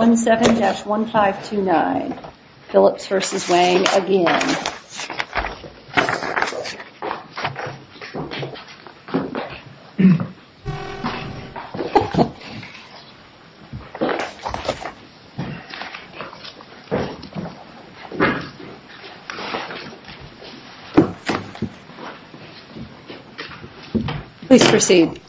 1-7-1529 Phillips v. Wang, again. Please proceed.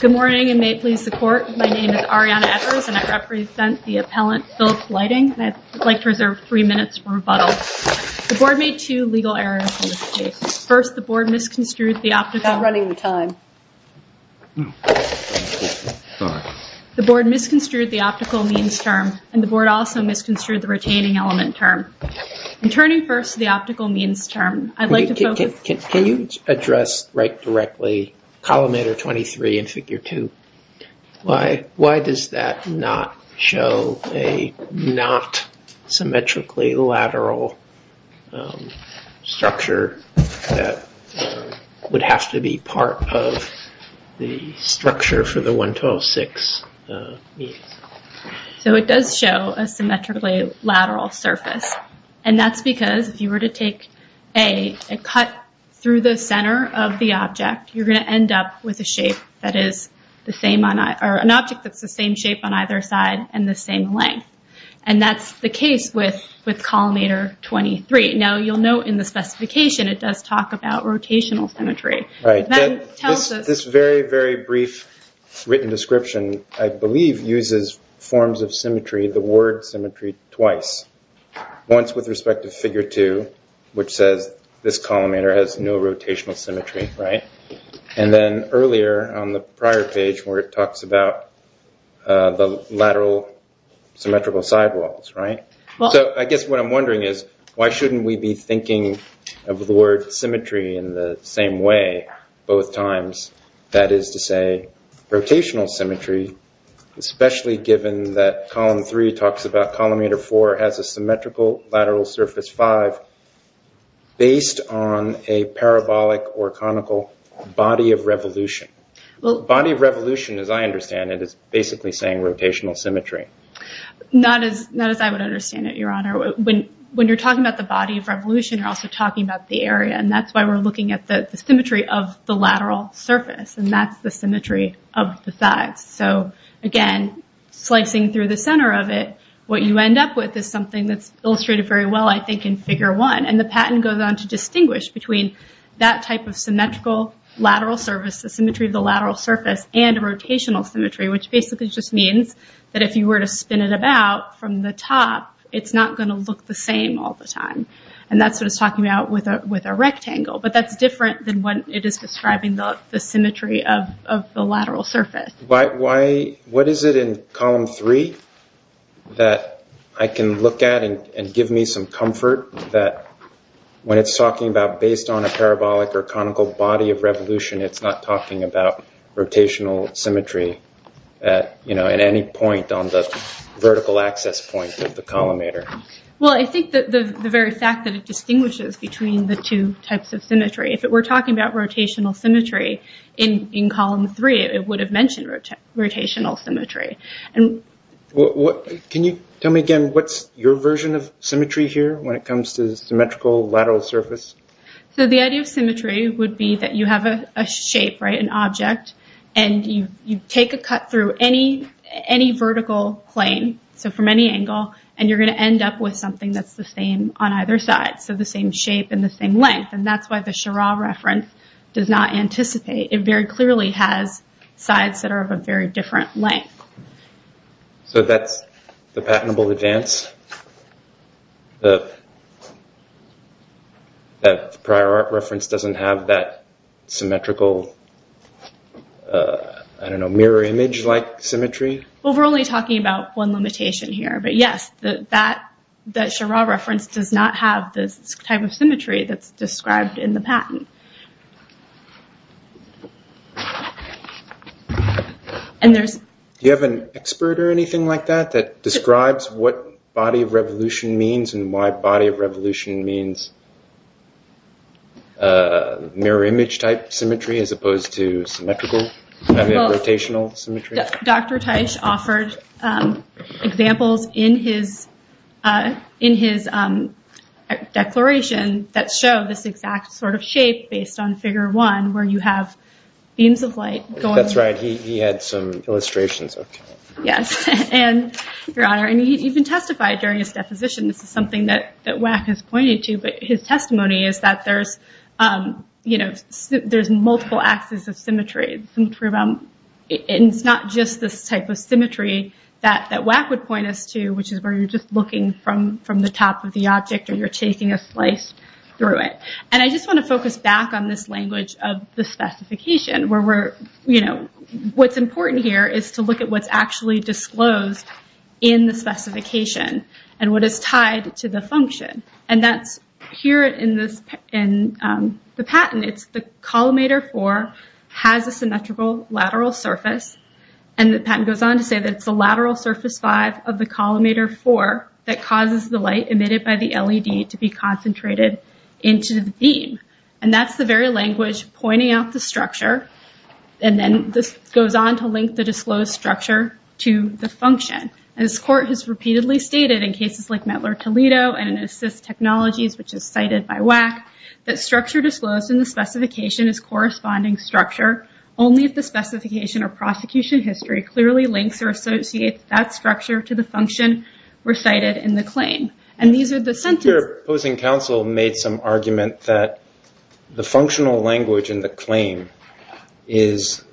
Good morning and may it please the court. My name is Arianna Evers and I represent the appellant Phillips Lighting. I'd like to reserve three minutes for rebuttal. The board made two legal errors in this case. First, the board misconstrued the optical means term and the board also misconstrued the retaining element term. I'm turning first to the optical means term. I'd like to focus... Can you address right directly columnator 23 in figure 2? Why does that not show a not symmetrically lateral structure that would have to be part of the structure for the 1-2-0-6? It does show a symmetrically lateral surface. That's because if you were to take a cut through the center of the object, you're going to end up with an object that's the same shape on either side and the same length. That's the case with columnator 23. You'll note in the specification it does talk about rotational symmetry. This very, very brief written description, I believe, uses forms of symmetry, the word symmetry, twice. Once with respect to figure 2, which says this columnator has no rotational symmetry. And then earlier on the prior page where it talks about the lateral symmetrical sidewalls. I guess what I'm wondering is why shouldn't we be thinking of the word symmetry in the same way both times? That is to say, rotational symmetry, especially given that column 3 talks about columnator 4 has a symmetrical lateral surface 5 based on a parabolic or conical body of revolution. Body of revolution, as I understand it, is basically saying rotational symmetry. Not as I would understand it, Your Honor. When you're talking about the body of revolution, you're also talking about the area. That's why we're looking at the symmetry of the lateral surface. That's the symmetry of the sides. Again, slicing through the center of it, what you end up with is something that's illustrated very well, I think, in figure 1. The patent goes on to distinguish between that type of symmetrical lateral surface, the symmetry of the lateral surface, and rotational symmetry. Which basically just means that if you were to spin it about from the top, it's not going to look the same all the time. And that's what it's talking about with a rectangle. But that's different than when it is describing the symmetry of the lateral surface. What is it in column 3 that I can look at and give me some comfort that when it's talking about based on a parabolic or conical body of revolution, it's not talking about rotational symmetry at any point on the vertical access point of the collimator? Well, I think the very fact that it distinguishes between the two types of symmetry. If it were talking about rotational symmetry in column 3, it would have mentioned rotational symmetry. Can you tell me again, what's your version of symmetry here when it comes to symmetrical lateral surface? So the idea of symmetry would be that you have a shape, right, an object, and you take a cut through any vertical plane, so from any angle, and you're going to end up with something that's the same on either side. So the same shape and the same length. And that's why the Schirra reference does not anticipate. It very clearly has sides that are of a very different length. So that's the patentable advance. The prior art reference doesn't have that symmetrical, I don't know, mirror image like symmetry? Well, we're only talking about one limitation here. But, yes, that Schirra reference does not have this type of symmetry that's described in the patent. Do you have an expert or anything like that that describes what body of revolution means and why body of revolution means mirror image type symmetry as opposed to symmetrical, rotational symmetry? Dr. Teich offered examples in his declaration that show this exact sort of shape based on figure one where you have beams of light. That's right. He had some illustrations. Yes. And, Your Honor, he even testified during his deposition. This is something that WAC has pointed to, but his testimony is that there's multiple axes of symmetry. It's not just this type of symmetry that WAC would point us to, which is where you're just looking from the top of the object or you're taking a slice through it. And I just want to focus back on this language of the specification. What's important here is to look at what's actually disclosed in the specification and what is tied to the function. And that's here in the patent. It's the collimator four has a symmetrical lateral surface. And the patent goes on to say that it's the lateral surface five of the collimator four that causes the light emitted by the LED to be concentrated into the beam. And that's the very language pointing out the structure. And then this goes on to link the disclosed structure to the function. And this court has repeatedly stated in cases like Mettler Toledo and in assist technologies, which is cited by WAC, that structure disclosed in the specification is corresponding structure, only if the specification or prosecution history clearly links or associates that structure to the function recited in the claim. Here opposing counsel made some argument that the functional language in the claim is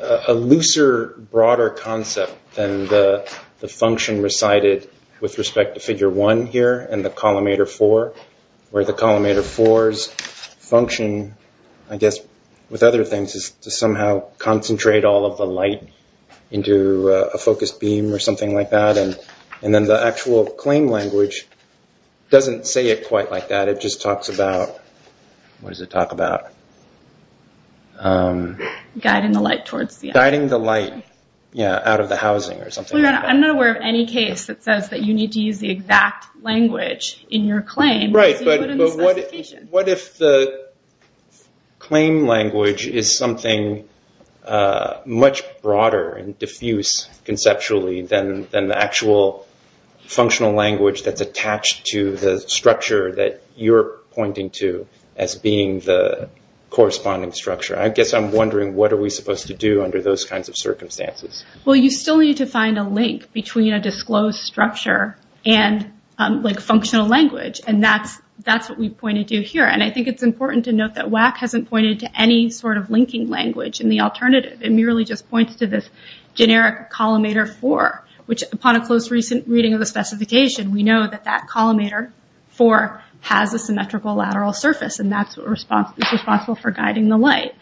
a looser, broader concept than the function recited with respect to figure one here and the collimator four, where the collimator four's function, I guess, with other things, is to somehow concentrate all of the light into a focused beam or something like that. And then the actual claim language doesn't say it quite like that. It just talks about, what does it talk about? Guiding the light out of the housing or something. I'm not aware of any case that says that you need to use the exact language in your claim. What if the claim language is something much broader and diffuse conceptually than the actual functional language that's attached to the structure that you're pointing to as being the corresponding structure? I guess I'm wondering, what are we supposed to do under those kinds of circumstances? Well, you still need to find a link between a disclosed structure and functional language. And that's what we've pointed to here. And I think it's important to note that WAC hasn't pointed to any sort of linking language in the alternative. It merely just points to this generic collimator four, which upon a close recent reading of the specification, we know that that collimator four has a symmetrical lateral surface. And that's what is responsible for guiding the light.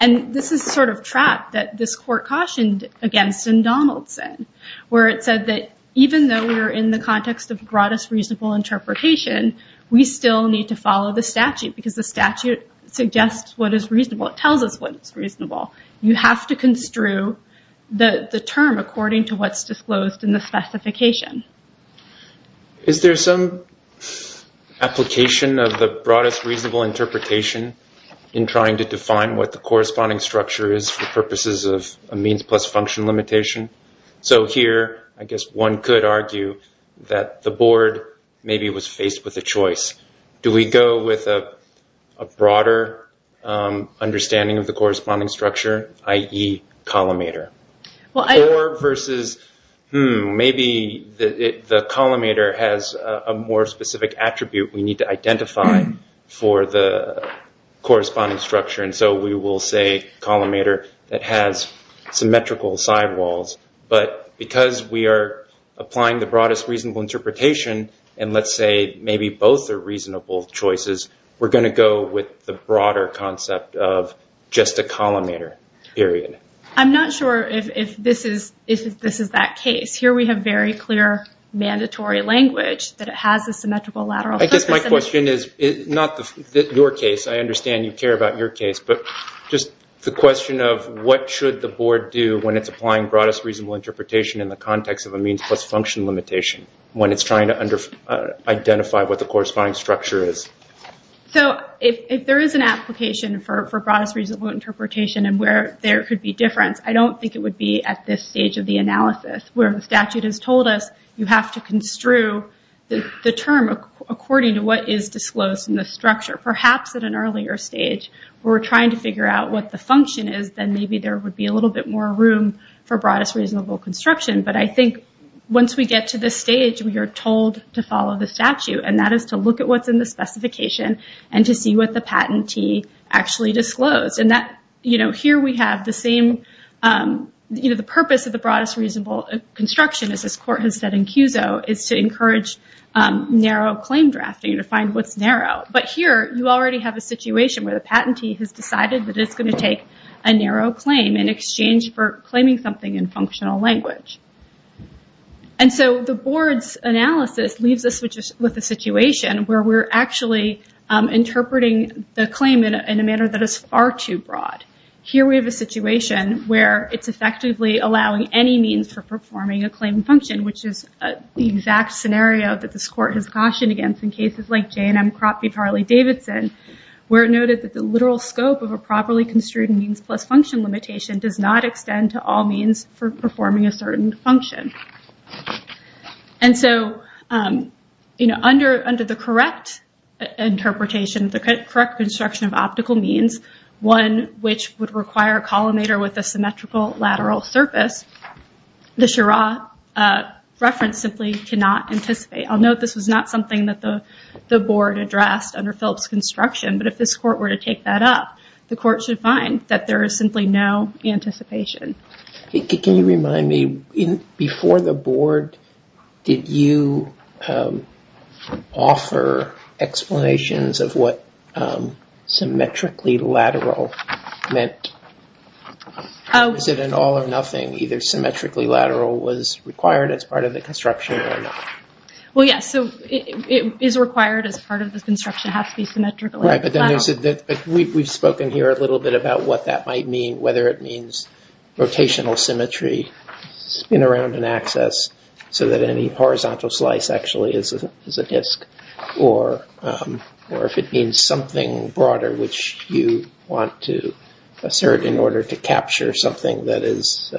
And this is the sort of trap that this court cautioned against in Donaldson, where it said that even though we're in the context of broadest reasonable interpretation, we still need to follow the statute because the statute suggests what is reasonable. It tells us what is reasonable. You have to construe the term according to what's disclosed in the specification. Is there some application of the broadest reasonable interpretation in trying to define what the corresponding structure is for purposes of a means plus function limitation? So here, I guess one could argue that the board maybe was faced with a choice. Do we go with a broader understanding of the corresponding structure, i.e., collimator? Four versus, hmm, maybe the collimator has a more specific attribute we need to identify for the corresponding structure. And so we will say collimator that has symmetrical sidewalls. But because we are applying the broadest reasonable interpretation, and let's say maybe both are reasonable choices, we're going to go with the broader concept of just a collimator, period. I'm not sure if this is that case. Here we have very clear mandatory language that it has a symmetrical lateral surface. I guess my question is not your case. I understand you care about your case, but just the question of what should the board do when it's applying broadest reasonable interpretation in the context of a means plus function limitation, when it's trying to identify what the corresponding structure is? So if there is an application for broadest reasonable interpretation and where there could be difference, I don't think it would be at this stage of the analysis, where the statute has told us you have to construe the term according to what is disclosed in the structure. Perhaps at an earlier stage, where we're trying to figure out what the function is, then maybe there would be a little bit more room for broadest reasonable construction. But I think once we get to this stage, we are told to follow the statute, and that is to look at what's in the specification and to see what the patentee actually disclosed. Here we have the purpose of the broadest reasonable construction, as this court has said in CUSO, is to encourage narrow claim drafting, to find what's narrow. But here, you already have a situation where the patentee has decided that it's going to take a narrow claim in exchange for claiming something in functional language. And so the board's analysis leaves us with a situation where we're actually interpreting the claim in a manner that is far too broad. Here we have a situation where it's effectively allowing any means for performing a claim function, which is the exact scenario that this court has cautioned against in cases like J&M Cropfield-Harley-Davidson, where it noted that the literal scope of a properly construed means plus function limitation does not extend to all means for performing a certain function. And so under the correct interpretation, the correct construction of optical means, one which would require a collimator with a symmetrical lateral surface, the Schirra reference simply cannot anticipate. I'll note this was not something that the board addressed under Phillips' construction, but if this court were to take that up, the court should find that there is simply no anticipation. Can you remind me, before the board, did you offer explanations of what symmetrically lateral meant? Was it an all or nothing, either symmetrically lateral was required as part of the construction or not? Well, yes, so it is required as part of the construction, it has to be symmetrically lateral. Right, but we've spoken here a little bit about what that might mean, whether it means rotational symmetry in around an axis so that any horizontal slice actually is a disk, or if it means something broader which you want to assert in order to capture something that is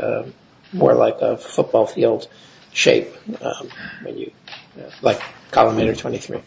more like a football field shape, like collimator 23.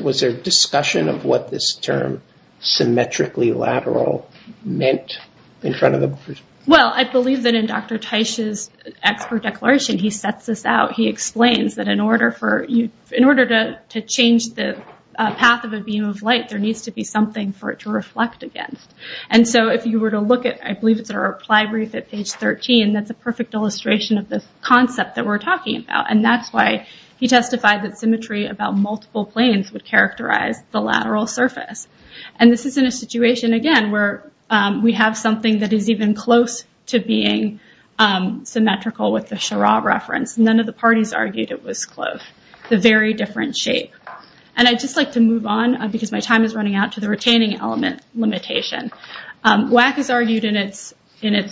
Was there discussion of what this term symmetrically lateral meant in front of the board? Well, I believe that in Dr. Teich's expert declaration, he sets this out, he explains that in order to change the path of a beam of light, there needs to be something for it to reflect against. And so if you were to look at, I believe it's our reply brief at page 13, that's a perfect illustration of the concept that we're talking about. And that's why he testified that symmetry about multiple planes would characterize the lateral surface. And this is in a situation, again, where we have something that is even close to being symmetrical with the Schirra reference, none of the parties argued it was close, a very different shape. And I'd just like to move on, because my time is running out, to the retaining element limitation. WAC has argued in its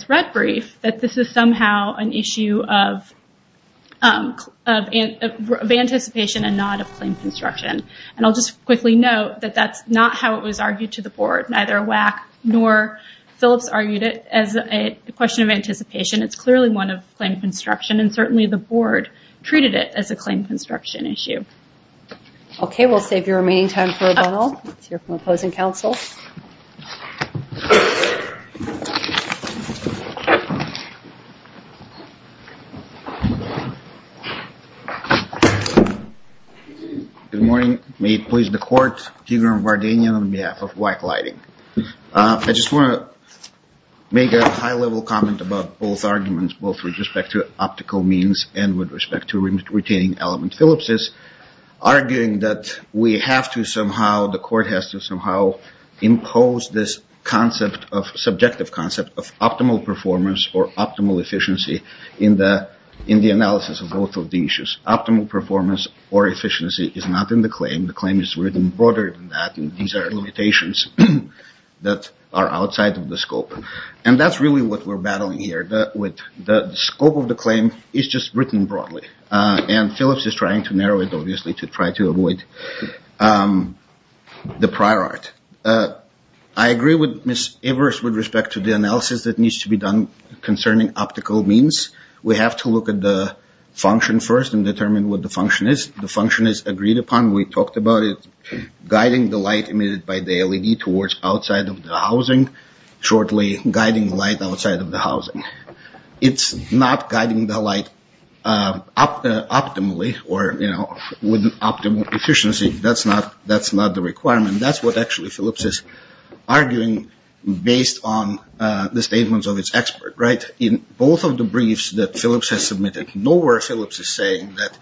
red brief that this is somehow an issue of anticipation and not of plane construction. And I'll just quickly note that that's not how it was argued to the board. Neither WAC nor Phillips argued it as a question of anticipation. It's clearly one of plane construction, and certainly the board treated it as a plane construction issue. Okay, we'll save your remaining time for rebuttal. Let's hear from opposing counsel. Good morning. May it please the court, Tigran Vardanyan on behalf of WAC Lighting. I just want to make a high-level comment about both arguments, both with respect to optical means and with respect to retaining element Phillipses, arguing that we have to somehow, the court has to somehow impose this subjective concept of optimal performance or optimal efficiency in the analysis of both of the issues. Optimal performance or efficiency is not in the claim. The claim is written broader than that, and these are limitations that are outside of the scope. And that's really what we're battling here. The scope of the claim is just written broadly. And Phillips is trying to narrow it, obviously, to try to avoid the prior art. I agree with Ms. Evers with respect to the analysis that needs to be done concerning optical means. We have to look at the function first and determine what the function is. The function is agreed upon. We talked about it. Guiding the light emitted by the LED towards outside of the housing, shortly guiding light outside of the housing. It's not guiding the light optimally or, you know, with optimal efficiency. That's not the requirement. That's what actually Phillips is arguing based on the statements of its expert, right, in both of the briefs that Phillips has submitted. Nowhere Phillips is saying that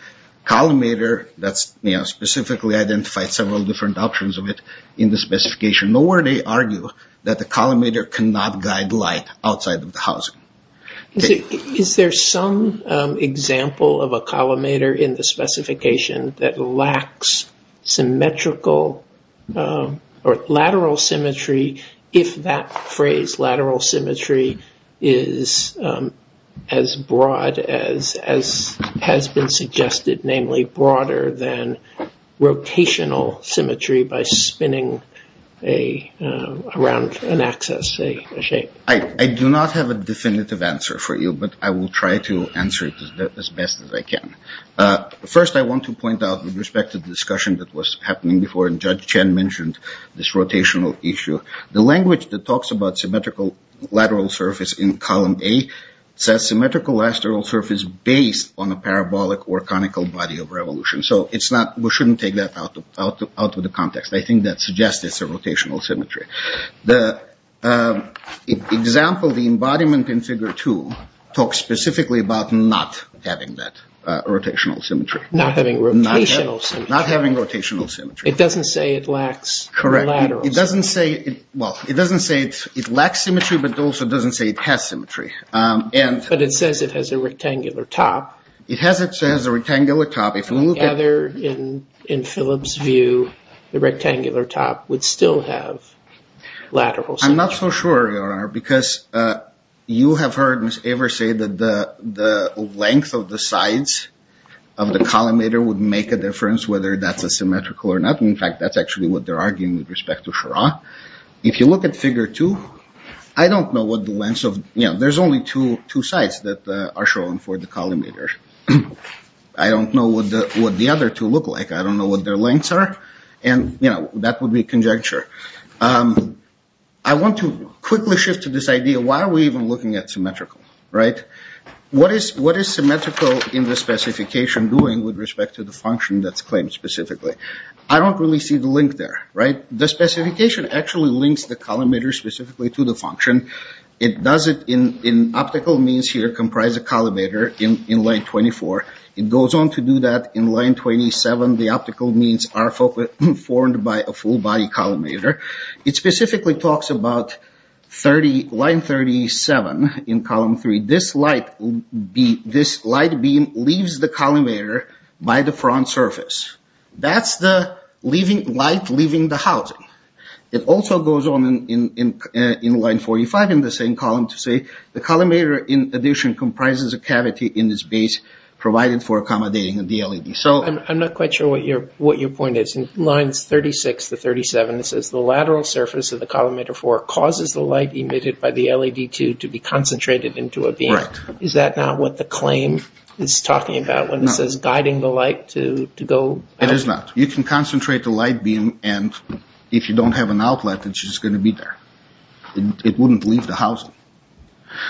collimator, that's, you know, specifically identified several different options of it in the specification. Nowhere they argue that the collimator cannot guide light outside of the housing. Is there some example of a collimator in the specification that lacks symmetrical or lateral symmetry if that phrase, lateral symmetry, is as broad as has been suggested, namely broader than rotational symmetry by spinning around an axis, a shape? I do not have a definitive answer for you, but I will try to answer it as best as I can. First, I want to point out with respect to the discussion that was happening before, and Judge Chen mentioned this rotational issue. The language that talks about symmetrical lateral surface in column A says symmetrical lateral surface based on a parabolic or conical body of revolution. So it's not, we shouldn't take that out of the context. I think that suggests it's a rotational symmetry. The example, the embodiment in Figure 2, talks specifically about not having that rotational symmetry. Not having rotational symmetry. Not having rotational symmetry. It doesn't say it lacks lateral symmetry. Correct. It doesn't say, well, it doesn't say it lacks symmetry, but it also doesn't say it has symmetry. But it says it has a rectangular top. It has a rectangular top. If we gather in Philip's view, the rectangular top would still have lateral symmetry. I'm not so sure, Your Honor, because you have heard Ms. Aver say that the length of the sides of the collimator would make a difference whether that's a symmetrical or not. In fact, that's actually what they're arguing with respect to Schirra. If you look at Figure 2, I don't know what the lengths of, you know, there's only two sides that are shown for the collimator. I don't know what the other two look like. I don't know what their lengths are. And, you know, that would be conjecture. I want to quickly shift to this idea, why are we even looking at symmetrical, right? What is symmetrical in the specification doing with respect to the function that's claimed specifically? I don't really see the link there, right? The specification actually links the collimator specifically to the function. It does it in optical means here, comprise a collimator in line 24. It goes on to do that in line 27. The optical means are formed by a full-body collimator. It specifically talks about line 37 in column 3. This light beam leaves the collimator by the front surface. That's the light leaving the housing. It also goes on in line 45 in the same column to say the collimator, in addition, comprises a cavity in this base provided for accommodating the LED. I'm not quite sure what your point is. In lines 36 to 37, it says the lateral surface of the collimator 4 causes the light emitted by the LED 2 to be concentrated into a beam. Correct. Is that not what the claim is talking about when it says guiding the light to go? It is not. You can concentrate the light beam, and if you don't have an outlet, it's just going to be there. It wouldn't leave the housing,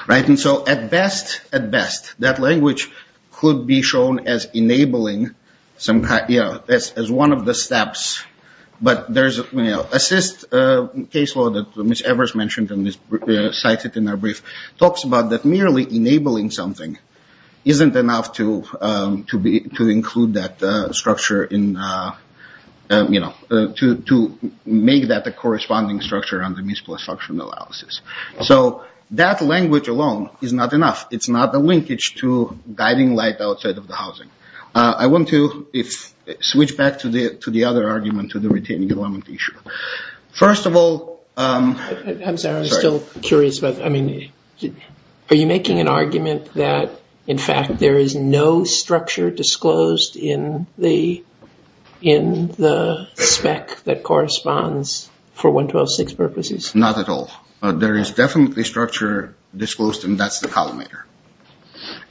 right? And so at best, at best, that language could be shown as enabling as one of the steps. But there's an assist caseload that Ms. Evers mentioned and cited in her brief. It talks about merely enabling something isn't enough to include that structure, to make that the corresponding structure under municipal instructional analysis. So that language alone is not enough. It's not the linkage to guiding light outside of the housing. I want to switch back to the other argument, to the retaining alignment issue. First of all... I'm sorry, I'm still curious. I mean, are you making an argument that, in fact, there is no structure disclosed in the spec that corresponds for 1.126 purposes? Not at all. There is definitely structure disclosed, and that's the collimator.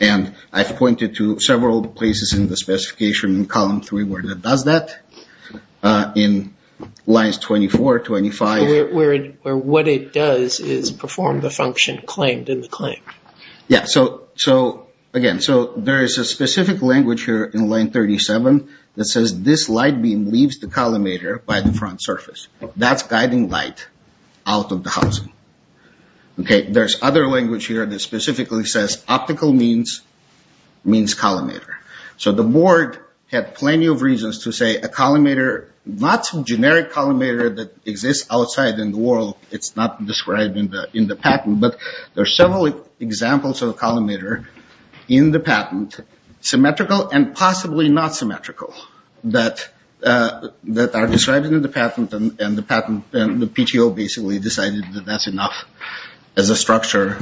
And I've pointed to several places in the specification in column 3 where it does that, in lines 24, 25. Where what it does is perform the function claimed in the claim. Yeah. So, again, there is a specific language here in line 37 that says this light beam leaves the collimator by the front surface. That's guiding light out of the housing. There's other language here that specifically says optical means collimator. So the board had plenty of reasons to say a collimator, not some generic collimator that exists outside in the world. It's not described in the patent. But there are several examples of a collimator in the patent, symmetrical and possibly not symmetrical, that are described in the patent. And the PTO basically decided that that's enough as a structure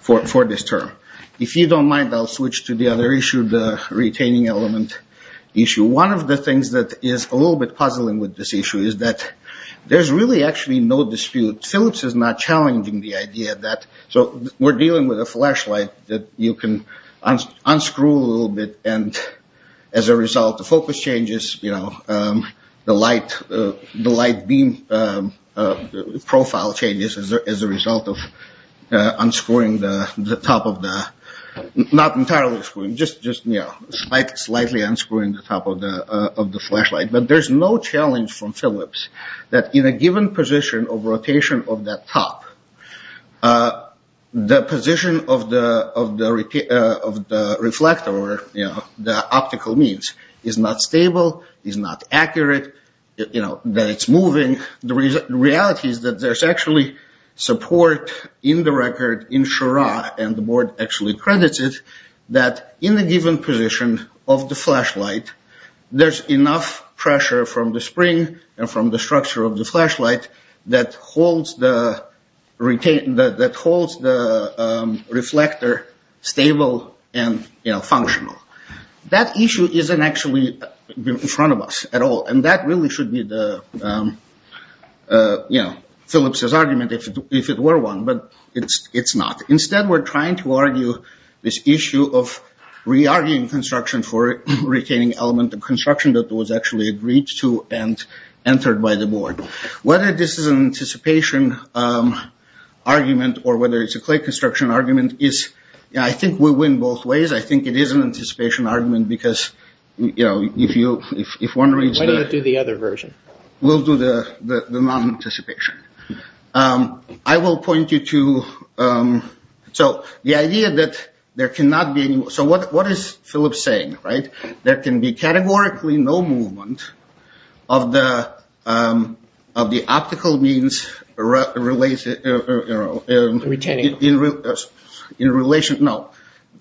for this term. If you don't mind, I'll switch to the other issue, the retaining element issue. One of the things that is a little bit puzzling with this issue is that there's really actually no dispute. Phillips is not challenging the idea that we're dealing with a flashlight that you can unscrew a little bit. And as a result, the focus changes. You know, the light beam profile changes as a result of unscrewing the top of the, not entirely, just, you know, slightly unscrewing the top of the flashlight. But there's no challenge from Phillips that in a given position of rotation of that top, the position of the reflector or, you know, the optical means is not stable, is not accurate, you know, that it's moving. The reality is that there's actually support in the record in Shura, and the board actually credits it, that in the given position of the flashlight, there's enough pressure from the spring and from the structure of the flashlight that holds the reflector stable and, you know, functional. That issue isn't actually in front of us at all, and that really should be the, you know, Phillips' argument if it were one, but it's not. Instead, we're trying to argue this issue of re-arguing construction for retaining element of construction that was actually agreed to and entered by the board. Whether this is an anticipation argument or whether it's a clay construction argument is, I think we win both ways. I think it is an anticipation argument because, you know, if one reads the... Why don't you do the other version? We'll do the non-anticipation. I will point you to... So, the idea that there cannot be any... So, what is Phillips saying, right? There can be categorically no movement of the optical means in relation... No.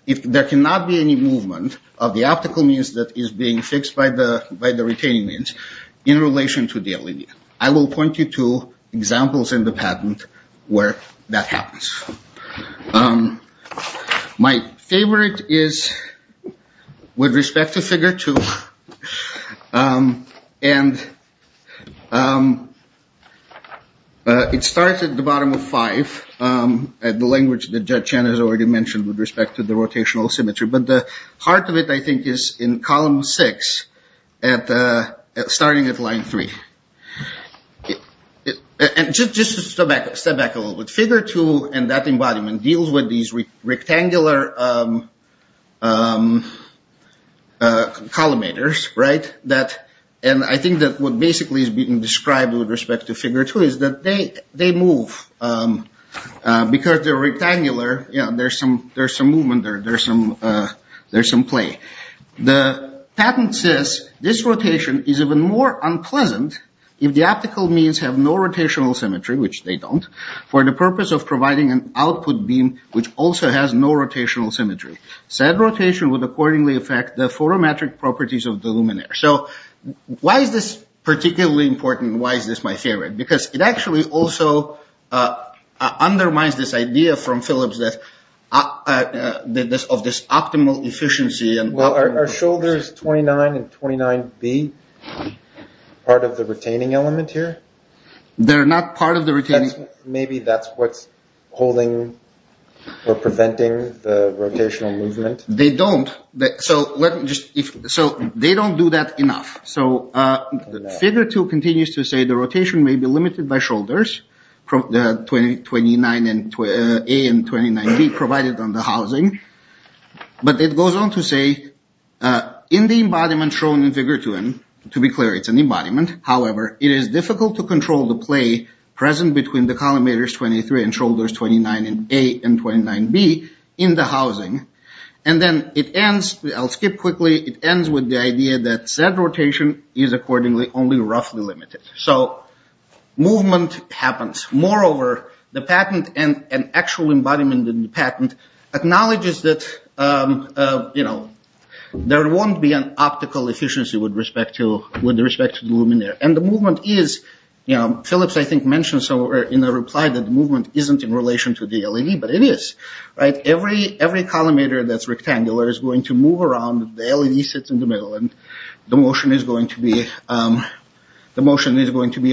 There cannot be any movement of the optical means that is being fixed by the retaining means in relation to the LED. I will point you to examples in the patent where that happens. My favorite is with respect to Figure 2. And it starts at the bottom of 5, at the language that Judge Chen has already mentioned with respect to the rotational symmetry. But the heart of it, I think, is in column 6, starting at line 3. And just to step back a little bit. Figure 2 and that embodiment deals with these rectangular collimators, right? And I think that what basically is being described with respect to Figure 2 is that they move. Because they're rectangular, there's some movement. There's some play. The patent says, this rotation is even more unpleasant if the optical means have no rotational symmetry, which they don't, for the purpose of providing an output beam which also has no rotational symmetry. Said rotation would accordingly affect the photometric properties of the luminaire. So, why is this particularly important? Why is this my favorite? Because it actually also undermines this idea from Phillips of this optimal efficiency. Well, are shoulders 29 and 29B part of the retaining element here? They're not part of the retaining. Maybe that's what's holding or preventing the rotational movement. They don't. So, they don't do that enough. So, Figure 2 continues to say the rotation may be limited by shoulders, 29A and 29B provided on the housing. But it goes on to say, in the embodiment shown in Figure 2, to be clear, it's an embodiment. However, it is difficult to control the play present between the collimators 23 and shoulders 29A and 29B in the housing. And then it ends, I'll skip quickly. It ends with the idea that said rotation is accordingly only roughly limited. So, movement happens. Moreover, the patent and actual embodiment in the patent acknowledges that, you know, there won't be an optical efficiency with respect to the luminaire. And the movement is, you know, Phillips, I think, mentioned somewhere in the reply that the movement isn't in relation to the LED, but it is. Right? Every collimator that's rectangular is going to move around. The LED sits in the middle and the motion is going to be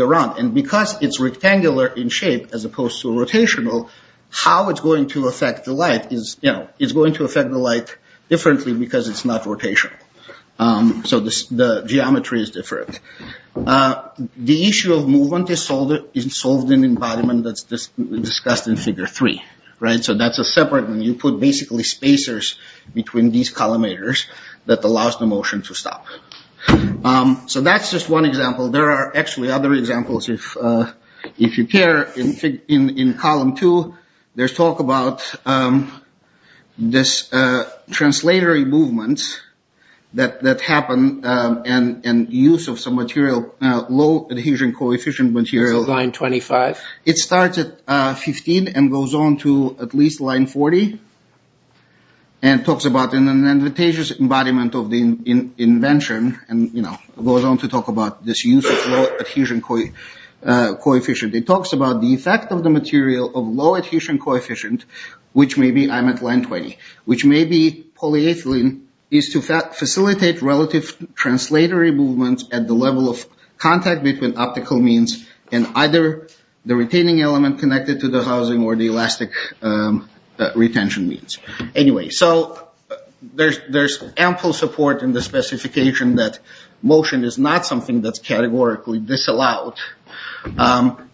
around. And because it's rectangular in shape as opposed to rotational, how it's going to affect the light is, you know, it's going to affect the light differently because it's not rotational. So, the geometry is different. The issue of movement is solved in embodiment that's discussed in Figure 3. Right? So, that's a separate one. You put basically spacers between these collimators that allows the motion to stop. So, that's just one example. There are actually other examples. If you care, in Column 2, there's talk about this translatory movement that happened and use of some material, low adhesion coefficient material. Line 25. It starts at 15 and goes on to at least line 40 and talks about an advantageous embodiment of the invention and, you know, goes on to talk about this use of low adhesion coefficient. It talks about the effect of the material of low adhesion coefficient, which may be, I'm at line 20, which may be polyethylene, is to facilitate relative translatory movements at the level of contact between optical means and either the retaining element connected to the housing or the elastic retention means. Anyway, so, there's ample support in the specification that motion is not something that's categorically disallowed.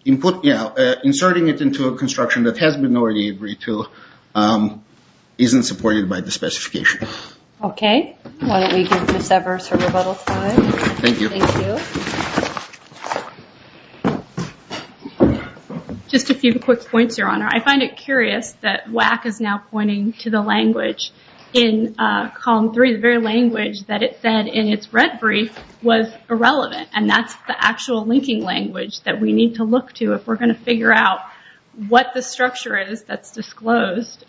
Inserting it into a construction that has been already agreed to isn't supported by the specification. Okay. Why don't we give Ms. Evers her rebuttal time. Thank you. Thank you. Just a few quick points, Your Honor. I find it curious that WACC is now pointing to the language in column three, the very language that it said in its red brief was irrelevant. And that's the actual linking language that we need to look to if we're going to figure out what the structure is that's disclosed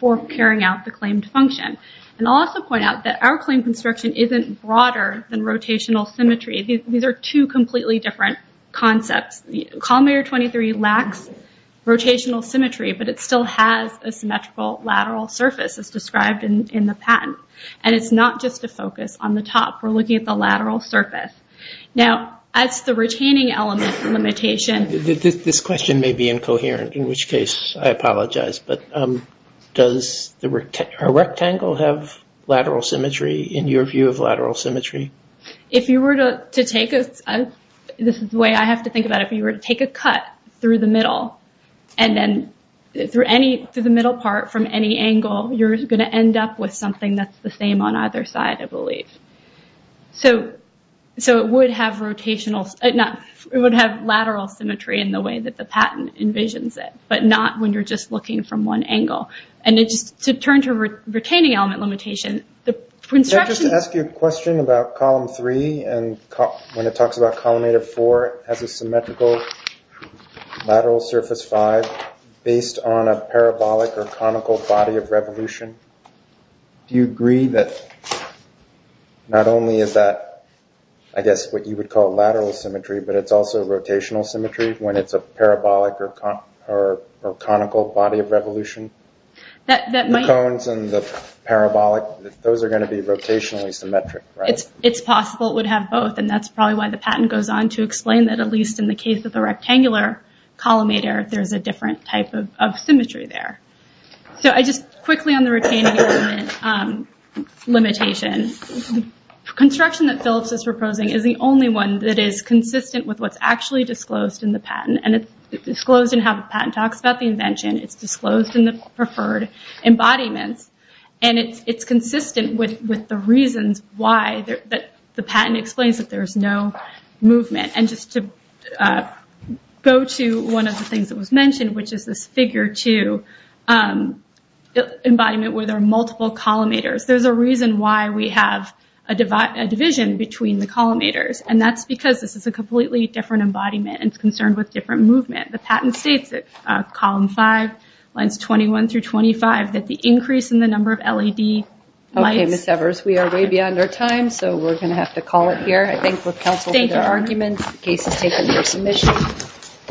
for carrying out the claimed function. And I'll also point out that our claim construction isn't broader than rotational symmetry. These are two completely different concepts. Column area 23 lacks rotational symmetry, but it still has a symmetrical lateral surface as described in the patent. And it's not just a focus on the top. We're looking at the lateral surface. Now, as the retaining element limitation... This question may be incoherent, in which case I apologize. But does a rectangle have lateral symmetry in your view of lateral symmetry? This is the way I have to think about it. If you were to take a cut through the middle part from any angle, you're going to end up with something that's the same on either side, I believe. So it would have lateral symmetry in the way that the patent envisions it, but not when you're just looking from one angle. To turn to retaining element limitation, the construction... Can I just ask you a question about column 3? When it talks about column 8 of 4, it has a symmetrical lateral surface 5 based on a parabolic or conical body of revolution. Do you agree that not only is that, I guess, what you would call lateral symmetry, but it's also rotational symmetry when it's a parabolic or conical body of revolution? The cones and the parabolic, those are going to be rotationally symmetric, right? It's possible it would have both, and that's probably why the patent goes on to explain that at least in the case of the rectangular columnator, there's a different type of symmetry there. Quickly on the retaining element limitation, construction that Phillips is proposing is the only one that is consistent with what's actually disclosed in the patent. It's disclosed in how the patent talks about the invention. It's disclosed in the preferred embodiments, and it's consistent with the reasons why the patent explains that there's no movement. Just to go to one of the things that was mentioned, which is this figure 2 embodiment where there are multiple columnators. There's a reason why we have a division between the columnators, and that's because this is a completely different embodiment and it's concerned with different movement. The patent states that column 5, lines 21 through 25, that the increase in the number of LED lights... ...in case of state of emergency mission.